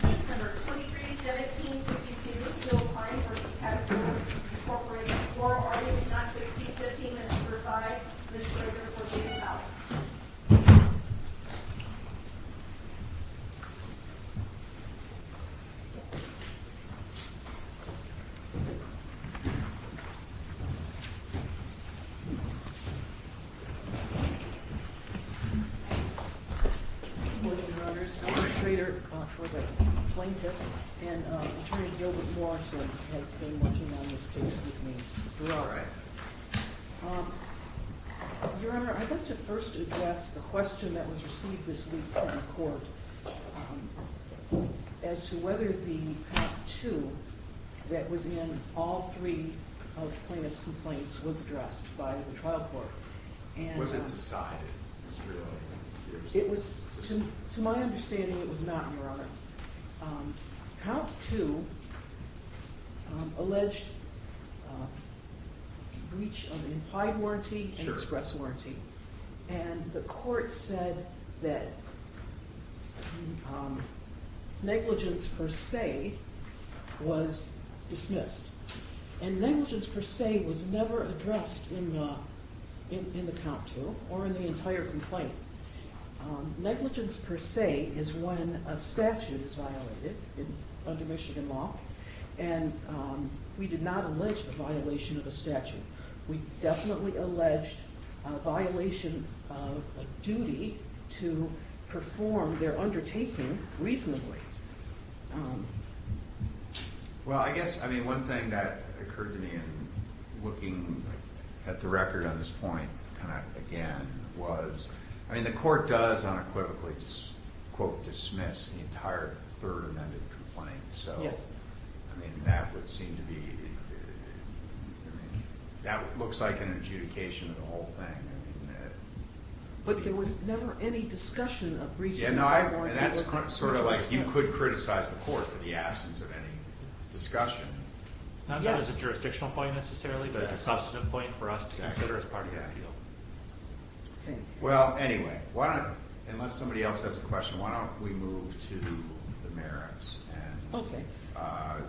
December 23, 1762, Bill Klein v. Caterpillar, Inc. Floor argument not to exceed 15 minutes per side. Mr. Schrader for the in-file. Good morning, Your Honors, I'm Mr. Schrader for the plaintiff, and Attorney Gilda Flawson has been working on this case with me throughout. Your Honor, I'd like to first address the question that was received this week in court as to whether the count two that was in all three of the plaintiff's complaints was addressed by the trial court. Was it decided? To my understanding, it was not, Your Honor. Count two alleged breach of implied warranty and express warranty, and the court said that negligence per se was dismissed, and negligence per se was never addressed in the count two or in the entire complaint. Negligence per se is when a statute is violated under Michigan law, and we did not allege a violation of a statute. We definitely alleged a violation of a duty to perform their undertaking reasonably. Well, I guess, I mean, one thing that occurred to me in looking at the record on this point again was, I mean, the court does unequivocally, quote, dismiss the entire third amended complaint, so I mean, that would seem to be, that looks like an adjudication of the whole thing. But there was never any discussion of breach of implied warranty. Yeah, no, and that's sort of like, you could criticize the court for the absence of any discussion. Not as a jurisdictional point necessarily, but as a substantive point for us to consider as part of that deal. Well, anyway, why don't, unless somebody else has a question, why don't we move to the merits and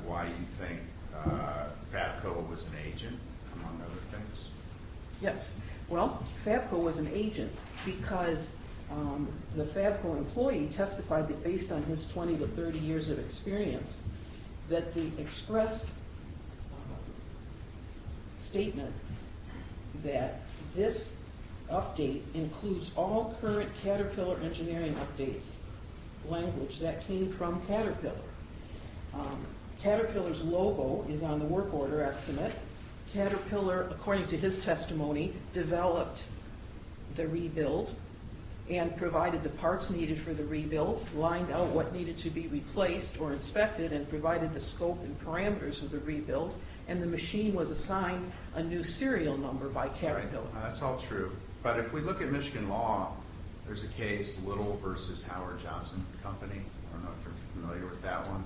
why you think FABCO was an agent, among other things. Yes, well, FABCO was an agent because the FABCO employee testified that based on his 20 to 30 years of experience, that the express statement that this update includes all current Caterpillar engineering updates language that came from Caterpillar. Caterpillar's logo is on the work order estimate. Caterpillar, according to his testimony, developed the rebuild and provided the parts needed for the rebuild, lined out what needed to be replaced or inspected and provided the scope and parameters of the rebuild. And the machine was assigned a new serial number by Caterpillar. That's all true. But if we look at Michigan law, there's a case, Little versus Howard Johnson Company. I don't know if you're familiar with that one.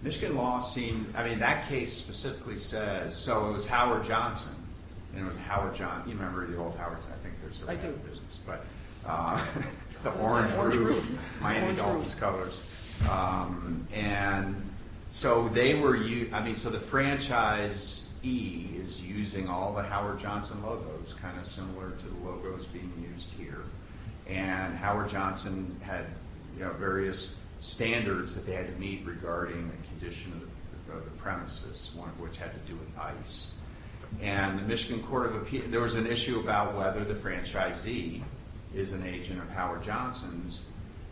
Michigan law seemed, I mean, that case specifically says, so it was Howard Johnson. And it was Howard Johnson. You remember the old Howard, I think there's a brand of business. The orange roof. Miami Dolphins colors. And so they were, I mean, so the franchise E is using all the Howard Johnson logos, kind of similar to the logos being used here. And Howard Johnson had various standards that they had to meet regarding the condition of the premises, one of which had to do with ice. And the Michigan Court of Appeals, there was an issue about whether the franchisee is an agent of Howard Johnson's.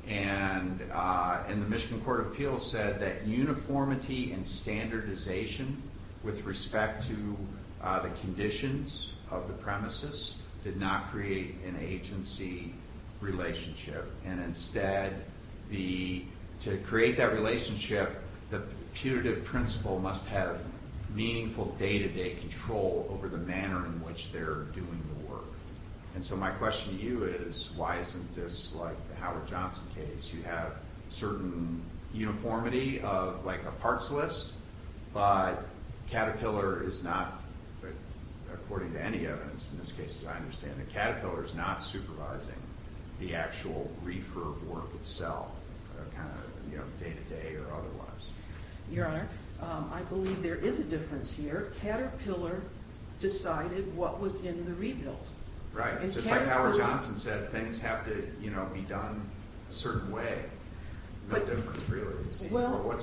And the Michigan Court of Appeals said that uniformity and standardization with respect to the conditions of the premises did not create an agency relationship. And instead, to create that relationship, the putative principle must have meaningful day-to-day control over the manner in which they're doing the work. And so my question to you is, why isn't this like the Howard Johnson case? You have certain uniformity of like a parts list, but Caterpillar is not, according to any evidence, in this case, as I understand it, Caterpillar is not supervising the actual reefer work itself, kind of day-to-day or otherwise. Your Honor, I believe there is a difference here. Caterpillar decided what was in the rebuild. Right, just like Howard Johnson said, things have to be done a certain way. What's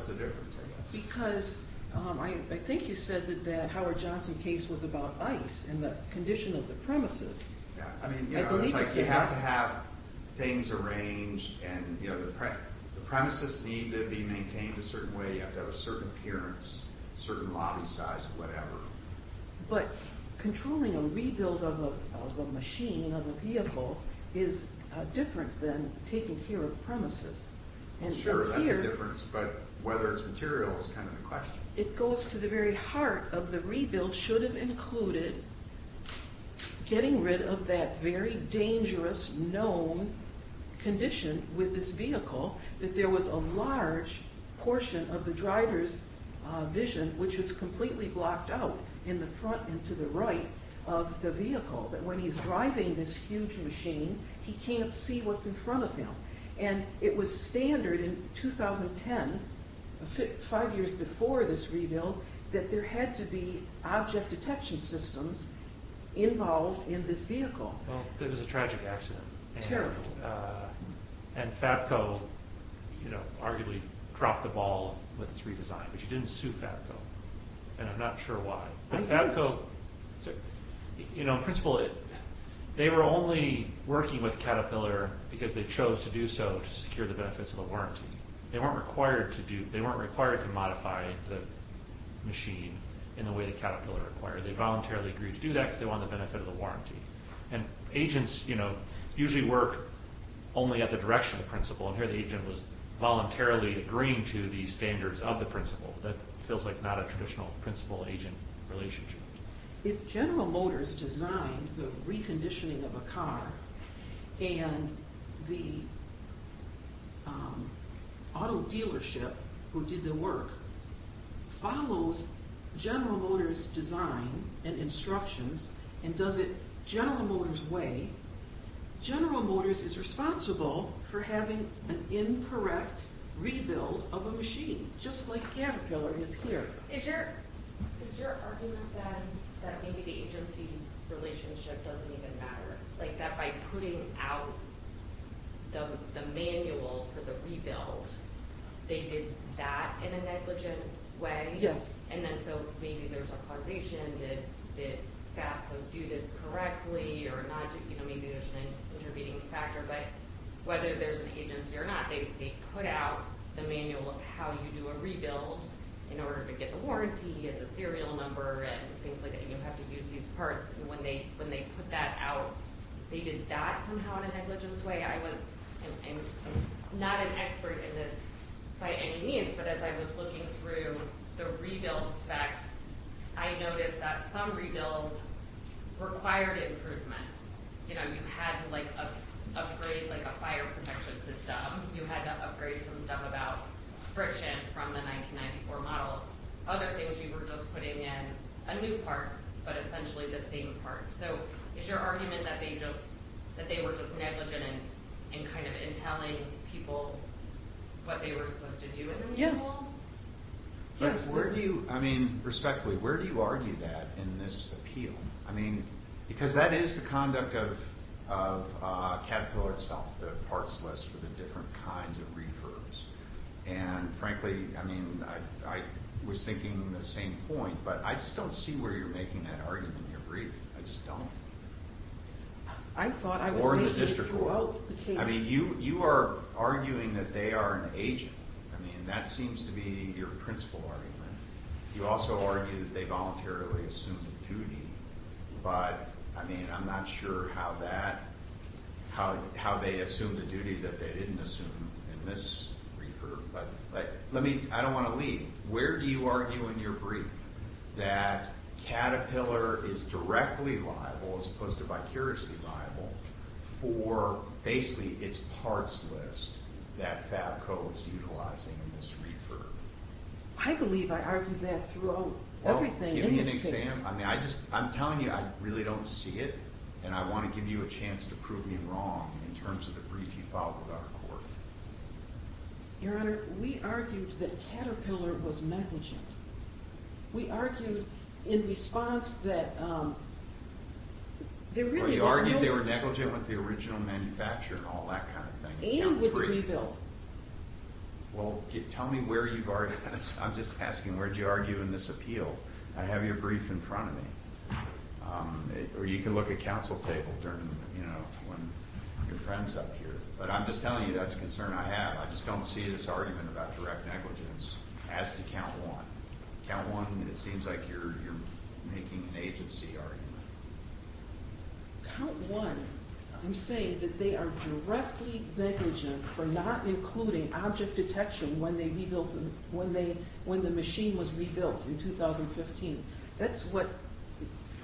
the difference, I guess? Because I think you said that the Howard Johnson case was about ice and the condition of the premises. I mean, it's like you have to have things arranged and the premises need to be maintained a certain way. You have to have a certain appearance, a certain lobby size, whatever. But controlling a rebuild of a machine, of a vehicle, is different than taking care of premises. Sure, that's a difference, but whether it's material is kind of the question. It goes to the very heart of the rebuild should have included getting rid of that very dangerous, known condition with this vehicle, that there was a large portion of the driver's vision, which was completely blocked out in the front and to the right of the vehicle, that when he's driving this huge machine, he can't see what's in front of him. And it was standard in 2010, five years before this rebuild, that there had to be object detection systems involved in this vehicle. Well, it was a tragic accident. And Fabco arguably dropped the ball with its redesign. But you didn't sue Fabco, and I'm not sure why. I didn't. Fabco, in principle, they were only working with Caterpillar because they chose to do so to secure the benefits of the warranty. They weren't required to modify the machine in the way that Caterpillar required. They voluntarily agreed to do that because they wanted the benefit of the warranty. And agents usually work only at the direction of the principal, and here the agent was voluntarily agreeing to the standards of the principal. That feels like not a traditional principal-agent relationship. If General Motors designed the reconditioning of a car, and the auto dealership who did the work follows General Motors' design and instructions, and does it General Motors' way, General Motors is responsible for having an incorrect rebuild of a machine, just like Caterpillar is here. Is your argument that maybe the agency relationship doesn't even matter? Like that by putting out the manual for the rebuild, they did that in a negligent way? Yes. And then so maybe there's a causation. Did Fabco do this correctly? Or maybe there's an intervening factor. But whether there's an agency or not, they put out the manual of how you do a rebuild in order to get the warranty and the serial number and things like that, and you have to use these parts. When they put that out, they did that somehow in a negligent way? I'm not an expert in this by any means, but as I was looking through the rebuild specs, I noticed that some rebuilds required improvements. You know, you had to, like, upgrade, like, a fire protection system. You had to upgrade some stuff about friction from the 1994 model. Other things you were just putting in a new part, but essentially the same part. So is your argument that they were just negligent in kind of telling people what they were supposed to do in the new model? But where do you, I mean, respectfully, where do you argue that in this appeal? I mean, because that is the conduct of Caterpillar itself, the parts list for the different kinds of refurbs, and frankly, I mean, I was thinking the same point, but I just don't see where you're making that argument in your briefing. I just don't. Or in the district court. I mean, you are arguing that they are an agent. I mean, that seems to be your principal argument. You also argue that they voluntarily assumed the duty, but, I mean, I'm not sure how that, how they assumed the duty that they didn't assume in this refurb. But let me, I don't want to leave. Where do you argue in your brief that Caterpillar is directly liable, as opposed to vicariously liable, for basically its parts list that FABCO is utilizing in this refurb? I believe I argued that throughout everything in this case. I mean, I just, I'm telling you, I really don't see it, and I want to give you a chance to prove me wrong in terms of the brief you filed with our court. Your Honor, we argued that Caterpillar was negligent. We argued in response that there really was no— But you argued they were negligent with the original manufacturer and all that kind of thing. And with the rebuild. Well, tell me where you are, I'm just asking, where do you argue in this appeal? I have your brief in front of me. Or you can look at counsel table during, you know, when your friend's up here. But I'm just telling you that's a concern I have. I just don't see this argument about direct negligence, as to count one. Count one, it seems like you're making an agency argument. Count one, I'm saying that they are directly negligent for not including object detection when the machine was rebuilt in 2015. That's what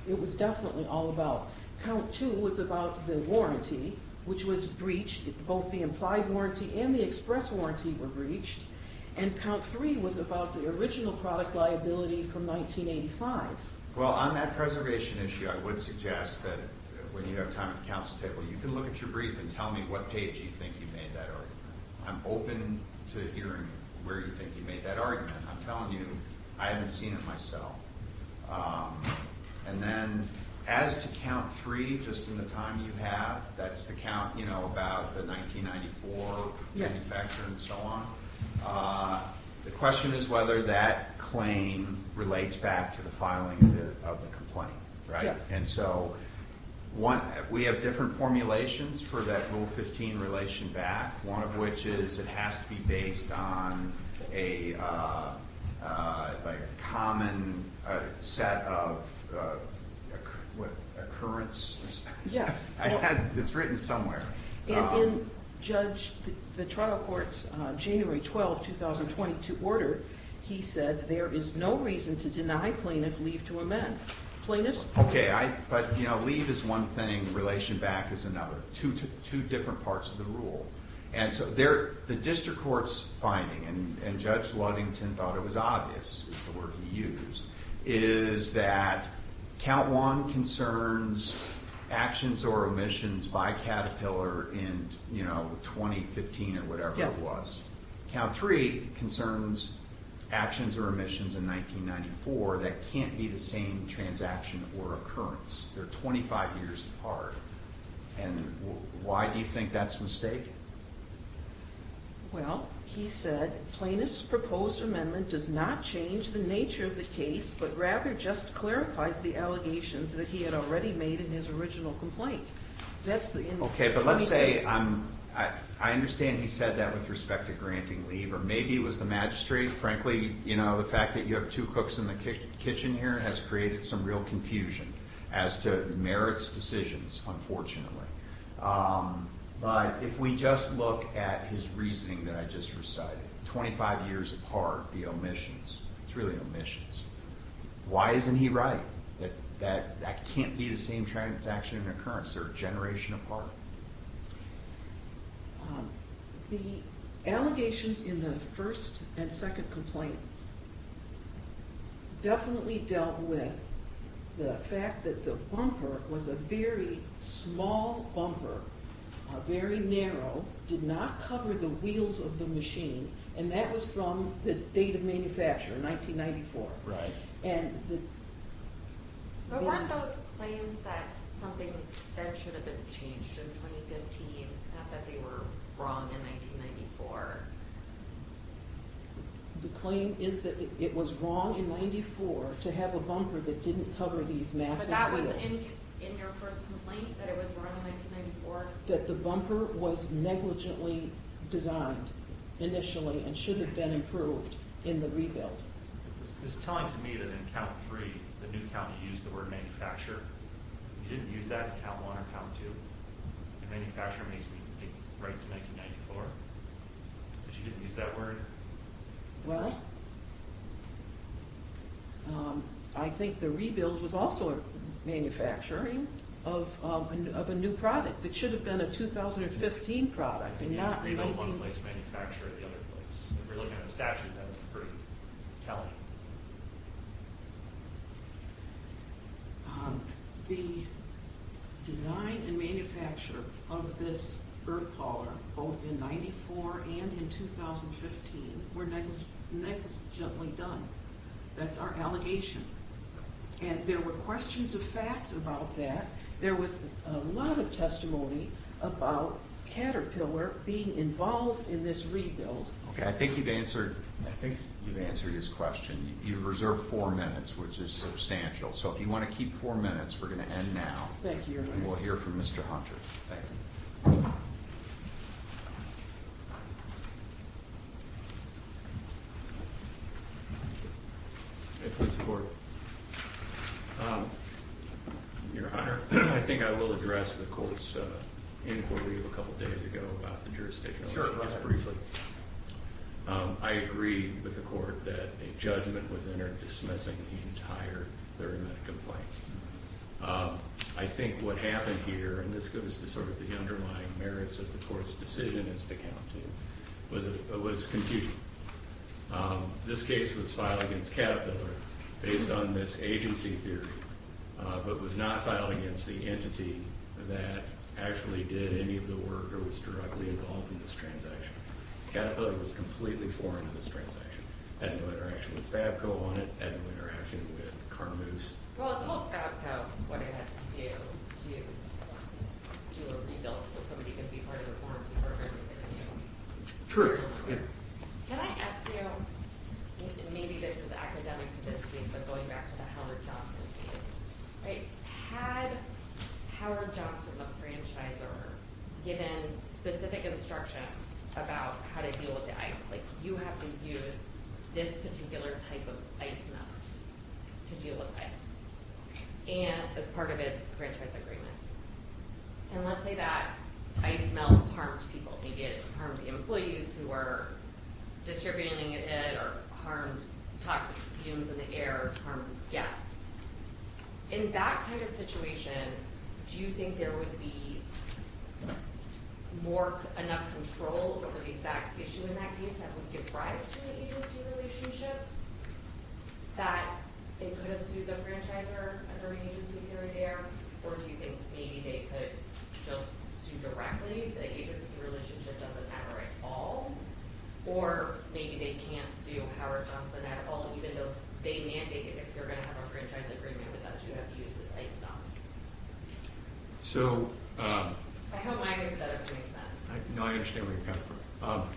it was definitely all about. Count two was about the warranty, which was breached. Both the implied warranty and the express warranty were breached. And count three was about the original product liability from 1985. Well, on that preservation issue, I would suggest that when you have time at the counsel table, you can look at your brief and tell me what page you think you made that argument. I'm open to hearing where you think you made that argument. I'm telling you, I haven't seen it myself. And then as to count three, just in the time you have, that's the count, you know, about the 1994 manufacturer and so on. The question is whether that claim relates back to the filing of the complaint, right? And so we have different formulations for that Rule 15 relation back, one of which is it has to be based on a common set of occurrences. Yes. It's written somewhere. In Judge, the trial court's January 12, 2020 to order, he said there is no reason to deny plaintiff leave to amend. Plaintiffs? Okay. But, you know, leave is one thing. Relation back is another. Two different parts of the rule. And so the district court's finding, and Judge Ludington thought it was obvious, is the word he used, is that count one concerns actions or omissions by Caterpillar in, you know, 2015 or whatever it was. Count three concerns actions or omissions in 1994 that can't be the same transaction or occurrence. They're 25 years apart. And why do you think that's a mistake? Well, he said, plaintiff's proposed amendment does not change the nature of the case, but rather just clarifies the allegations that he had already made in his original complaint. Okay, but let's say, I understand he said that with respect to granting leave, or maybe it was the magistrate. Frankly, you know, the fact that you have two cooks in the kitchen here has created some real confusion as to merits decisions, unfortunately. But if we just look at his reasoning that I just recited, 25 years apart, the omissions, it's really omissions. Why isn't he right? That that can't be the same transaction or occurrence. They're a generation apart. The allegations in the first and second complaint definitely dealt with the fact that the bumper was a very small bumper, very narrow, did not cover the wheels of the machine, and that was from the date of manufacture, 1994. But weren't those claims that something that should have been changed in 2015, not that they were wrong in 1994? The claim is that it was wrong in 1994 to have a bumper that didn't cover these massive wheels. But that was in your first complaint, that it was wrong in 1994? That the bumper was negligently designed initially and should have been improved in the rebuild. It was telling to me that in count three, the new county used the word manufacture. You didn't use that in count one or count two. The manufacturer makes me think right to 1994. But you didn't use that word? Well, I think the rebuild was also a manufacturing of a new product that should have been a 2015 product and not an 18. The rebuild one place manufactured the other place. If you're looking at the statute, that's pretty telling. The design and manufacture of this birdcaller, both in 1994 and in 2015, were negligently done. That's our allegation. And there were questions of fact about that. There was a lot of testimony about Caterpillar being involved in this rebuild. I think you've answered his question. You've reserved four minutes, which is substantial. So if you want to keep four minutes, we're going to end now. We'll hear from Mr. Hunter. Thank you. May I please report? Your Honor, I think I will address the court's inquiry of a couple days ago about the jurisdiction. Sure, go ahead. Just briefly. I agree with the court that a judgment was entered dismissing the entire Lurie-Meadow complaint. I think what happened here, and this goes to sort of the underlying merits of the court's decision as to counting, was confusion. This case was filed against Caterpillar based on this agency theory, but was not filed against the entity that actually did any of the work or was directly involved in this transaction. Caterpillar was completely foreign to this transaction. It had no interaction with FABCO on it. It had no interaction with Carmuse. Well, it told FABCO what it had to do to do a rebuild so somebody could be part of the warranty for everything they knew. True. Can I ask you, maybe this is academic to this case, but going back to the Howard Johnson case, had Howard Johnson, the franchisor, given specific instruction about how to deal with the ICE? Like, you have to use this particular type of ice melt to deal with ICE as part of its grant type agreement. And let's say that ice melt harmed people. Maybe it harmed the employees who were distributing it or harmed toxic fumes in the air, harmed guests. In that kind of situation, do you think there would be enough control over the exact issue in that case that would give rise to an agency relationship that it's good to sue the franchisor under an agency period there? Or do you think maybe they could just sue directly if the agency relationship doesn't matter at all? Or maybe they can't sue Howard Johnson at all even though they mandated if you're going to have a franchise agreement with us, you have to use this ice melt. So... I hope I made that up to make sense. No, I understand where you're coming from.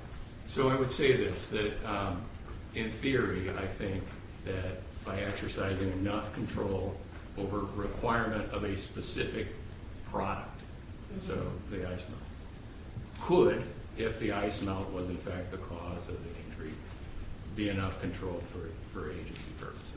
So I would say this, that in theory, I think that by exercising enough control over a requirement of a specific product, so the ice melt, could, if the ice melt was in fact the cause of the injury, be enough control for agency purposes.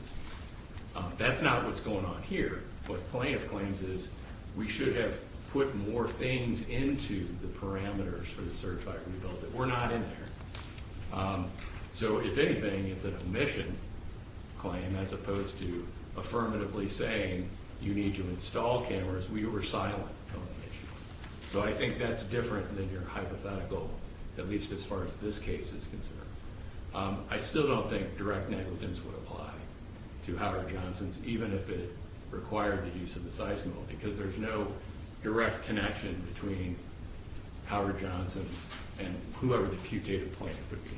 That's not what's going on here. What plaintiff claims is we should have put more things into the parameters for the certified rebuild. We're not in there. So if anything, it's an omission claim as opposed to affirmatively saying you need to install cameras. We were silent on the issue. So I think that's different than your hypothetical, at least as far as this case is concerned. I still don't think direct negligence would apply to Howard Johnson's, even if it required the use of this ice melt, because there's no direct connection between Howard Johnson's and whoever the putative plaintiff would be.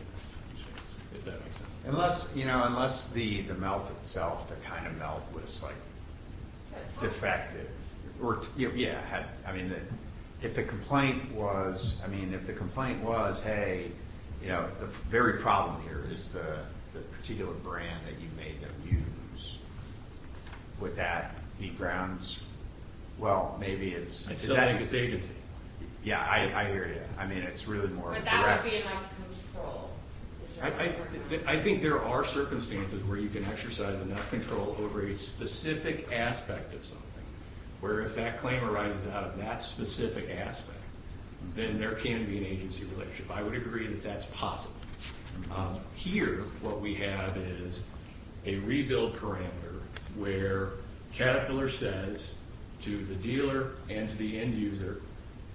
If that makes sense. Unless the melt itself, the kind of melt, was defective. Yeah. If the complaint was, if the complaint was, hey, the very problem here is the particular brand that you made them use, would that be grounds? Well, maybe it's... I still think it's agency. Yeah, I hear you. I mean, it's really more... But that would be enough control. I think there are circumstances where you can exercise enough control over a specific aspect of something, where if that claim arises out of that specific aspect, then there can be an agency relationship. I would agree that that's possible. Here, what we have is a rebuild parameter where Caterpillar says to the dealer and to the end user,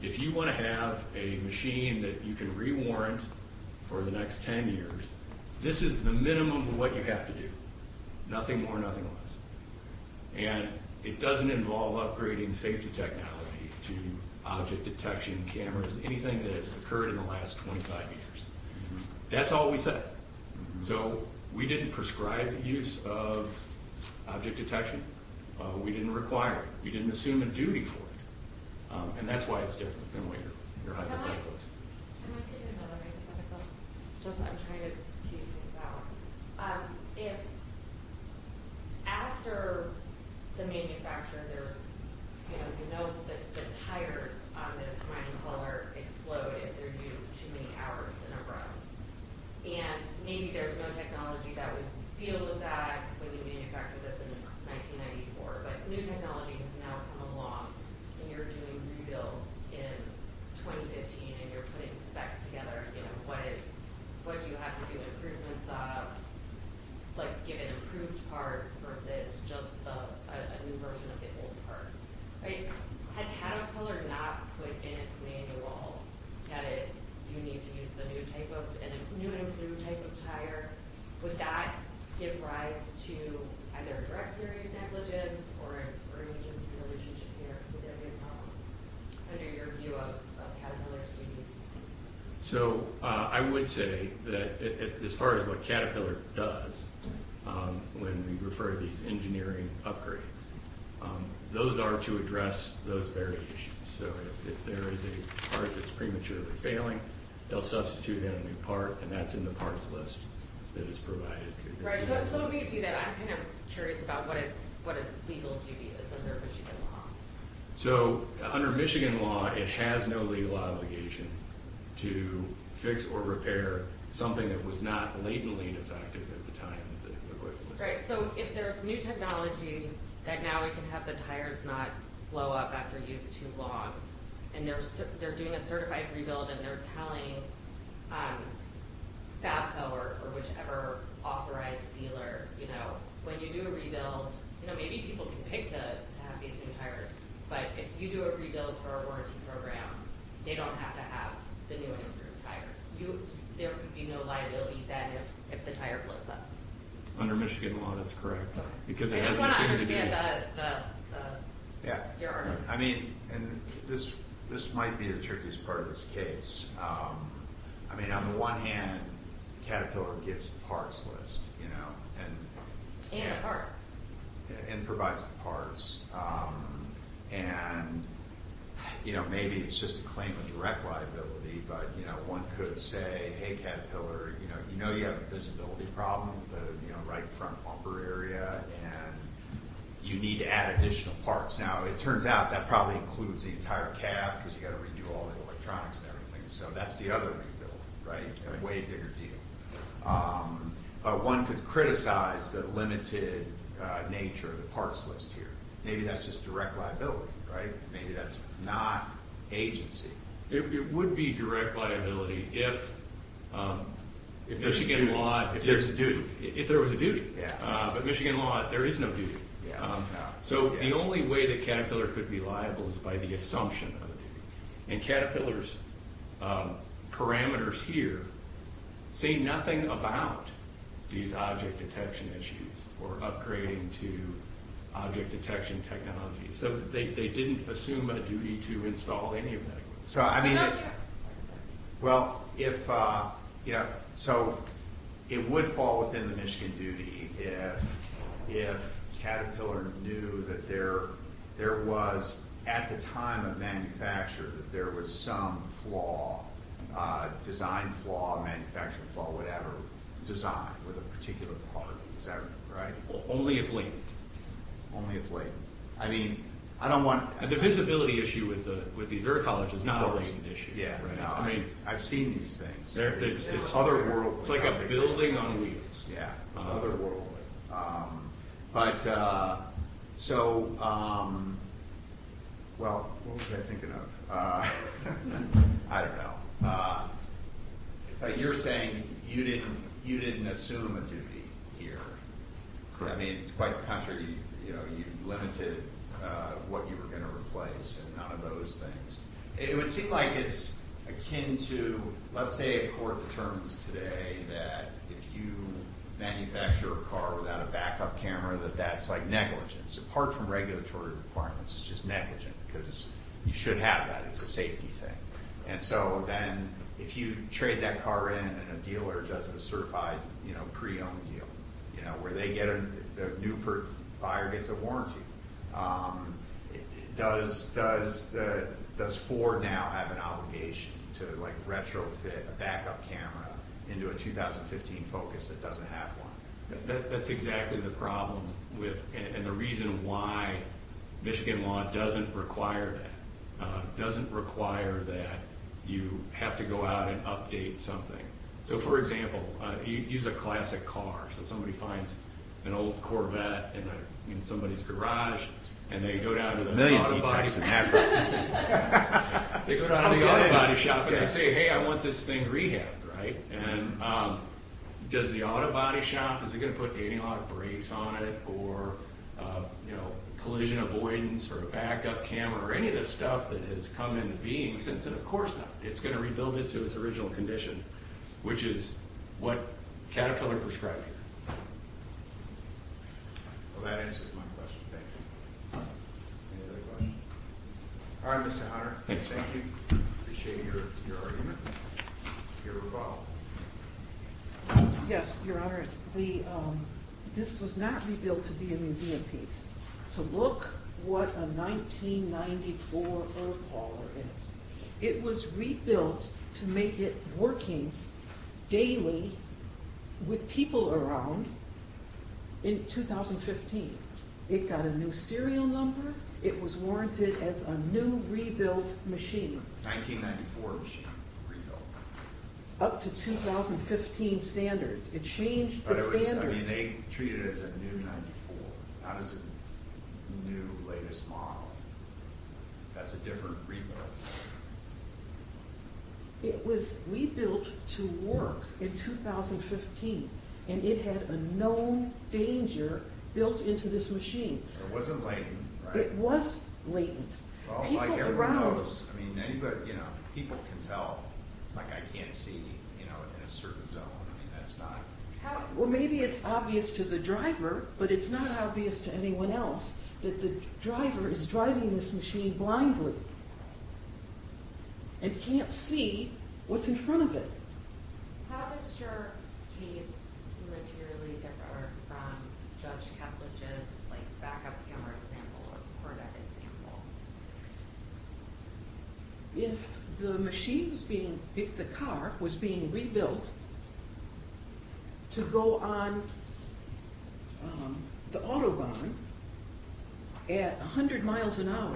if you want to have a machine that you can rewarrant for the next ten years, this is the minimum of what you have to do. Nothing more, nothing less. And it doesn't involve upgrading safety technology to object detection cameras, anything that has occurred in the last 25 years. That's all we said. So we didn't prescribe the use of object detection. We didn't require it. We didn't assume a duty for it. And that's why it's different than what your hypothetical is. Can I take another hypothetical? I'm trying to tease things out. If... After the manufacture, there's... You know, the tires on the Caterpillar explode if they're used too many hours in a row. And maybe there's no technology that would deal with that when you manufactured this in 1994. But new technology has now come along and you're doing rebuilds in 2015 and you're putting specs together. What do you have to do improvements on? Like, give an improved part versus just a new version of the old part. Had Caterpillar not put in its manual that you need to use the new type of... new and improved type of tire, would that give rise to either a direct period negligence or an agency relationship here with any problems? Under your view of Caterpillar's duties. So, I would say that as far as what Caterpillar does when we refer to these engineering upgrades, those are to address those very issues. So, if there is a part that's prematurely failing, they'll substitute in a new part and that's in the parts list that is provided. Right, so let me get to that. I'm kind of curious about what its legal duty is under Michigan law. So, under Michigan law, it has no legal obligation to fix or repair something that was not latently defective at the time. Right, so if there's new technology that now we can have the tires not blow up after use too long, and they're doing a certified rebuild and they're telling FAFSA or whichever authorized dealer, you know, when you do a rebuild, you know, maybe people can pay to have these new tires, but if you do a rebuild for a warranty program, they don't have to have the new and improved tires. There would be no liability if the tire blows up. Under Michigan law, that's correct. I just want to understand your argument. I mean, this might be the trickiest part of this case. I mean, on the one hand, Caterpillar gives the parts list, you know. And the parts. And provides the parts. And, you know, maybe it's just a claim of direct liability, but, you know, one could say, hey Caterpillar, you know you have a visibility problem with the right front bumper area, and you need to add additional parts. Now, it turns out that probably includes the entire cab, because you've got to redo all the electronics and everything. So that's the other rebuild, right? A way bigger deal. But one could criticize the limited nature of the parts list here. Maybe that's just direct liability, right? Maybe that's not agency. It would be direct liability if Michigan law... If there was a duty. But Michigan law, there is no duty. So the only way that Caterpillar could be liable is by the assumption of a duty. And Caterpillar's parameters here say nothing about these object detection issues, or upgrading to object detection technology. So they didn't assume a duty to install any of that. So, I mean... Well, if... So, it would fall within the Michigan duty if Caterpillar knew that there was at the time of manufacture that there was some flaw, design flaw, manufacturing flaw, whatever, design with a particular part. Is that right? Only if latent. Only if latent. I mean, I don't want... The visibility issue with the earth is not a latent issue. I've seen these things. It's otherworldly. It's like a building on wheels. It's otherworldly. So, well, what was I thinking of? I don't know. But you're saying you didn't assume a duty here. I mean, it's quite the contrary. You limited what you were going to replace, and none of those things. It would seem like it's akin to... Let's say a court determines today that if you manufacture a car without a backup camera, that that's negligence. Apart from regulatory requirements, it's just negligence. Because you should have that. It's a safety thing. And so then, if you trade that car in and a dealer does a certified pre-owned deal, where the new buyer gets a warranty, does Ford now have an obligation to retrofit a backup camera into a 2015 Focus that doesn't have one? That's exactly the problem and the reason why Michigan law doesn't require that. It doesn't require that you have to go out and update something. For example, use a classic car. Somebody finds an old Corvette in somebody's garage, and they go down to the... They go down to the auto body shop and they say, hey, I want this thing rehabbed. Does the auto body shop, is it going to put anti-lock brakes on it? Or collision avoidance for a backup camera or any of this stuff that has come into being since then? Of course not. It's going to rebuild it to its original condition, which is what Caterpillar prescribed here. Well, that answers my question. Thank you. Any other questions? All right, Mr. Hunter. Thank you. Appreciate your argument. Your rebuttal. Yes, Your Honor. The... This was not rebuilt to be a museum piece. To look what a 1994 Earpoller is. It was rebuilt to make it working daily with people around in 2015. It got a new serial number. It was warranted as a new rebuilt machine. 1994 machine, rebuilt. Up to 2015 standards. It changed the standards. I mean, they treat it as a new 94, not as a new, latest model. That's a different rebuild. It was rebuilt to work in 2015. And it had a known danger built into this machine. It wasn't latent, right? It was latent. Well, like everyone knows, people can tell, like I can't see in a certain zone. I mean, that's not... Well, maybe it's obvious to the driver, but it's not obvious to anyone else that the driver is driving this machine blindly. And can't see what's in front of it. How does your case materially differ from Judge Keplech's backup camera example or Corvette example? If the machine was being... If the car was being rebuilt to go on the Autobahn at 100 miles an hour,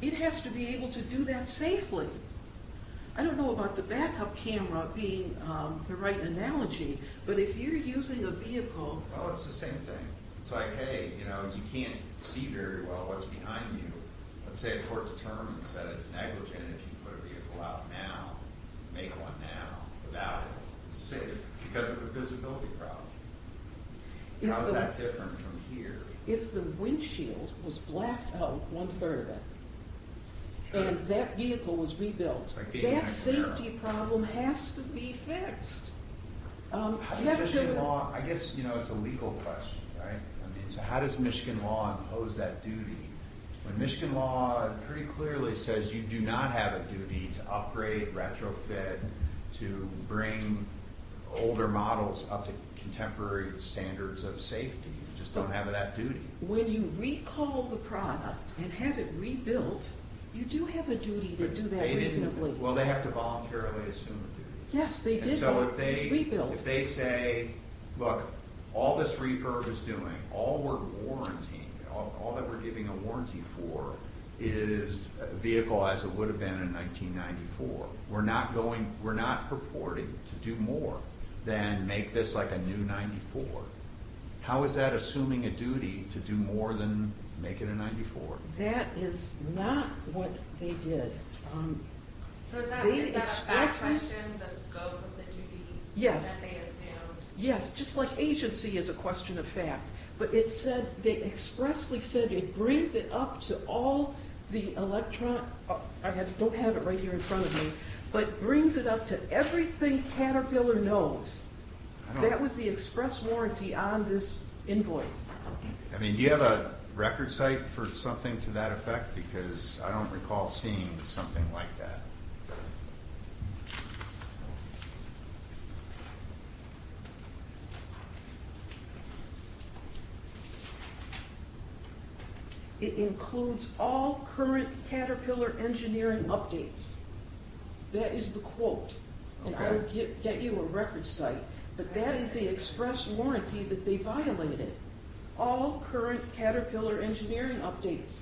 it has to be able to do that safely. I don't know about the backup camera being the right analogy, but if you're using a vehicle... Well, it's the same thing. It's like, hey, you know, you can't see very well what's behind you. Let's say a court determines that it's negligent if you put a vehicle out now and make one now without it. It's safe because of the visibility problem. How is that different from here? If the windshield was blacked out one-third of it and that vehicle was rebuilt, that safety problem has to be fixed. I guess, you know, it's a legal question, right? How does Michigan law impose that duty? Michigan law pretty clearly says you do not have a duty to upgrade, retrofit, to bring older models up to contemporary standards of safety. You just don't have that duty. When you recall the product and have it rebuilt, you do have a duty to do that reasonably. Well, they have to voluntarily assume a duty. Yes, they did. If they say, look, all this refurb is doing, all we're warranting, all that we're giving a warranty for, is a vehicle as it would have been in 1994. We're not going, we're not purporting to do more than make this like a new 94. How is that assuming a duty to do more than make it a 94? That is not what they did. So is that a fact question? The scope of the duty that they assumed? Yes, just like agency is a question of fact. But it said, they expressly said it brings it up to all the electronic, I don't have it right here in front of me, but brings it up to everything Caterpillar knows. That was the express warranty on this invoice. Do you have a record site for something to that effect? Because I don't recall seeing something like that. It includes all current Caterpillar engineering updates. That is the quote. And I will get you a record site. But that is the express warranty that they violated. All current Caterpillar engineering updates.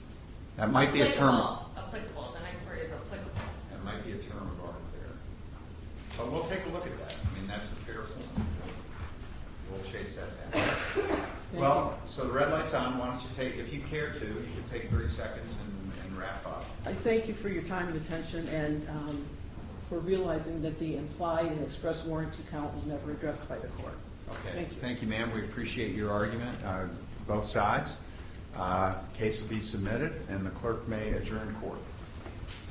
Well, so the red light's on. If you care to, you can take three seconds and wrap up. I thank you for your time and attention. And for realizing that the implied express warranty count was never addressed by the court. Thank you, ma'am. We appreciate your argument. Both sides. Case will be submitted. And the clerk may adjourn court.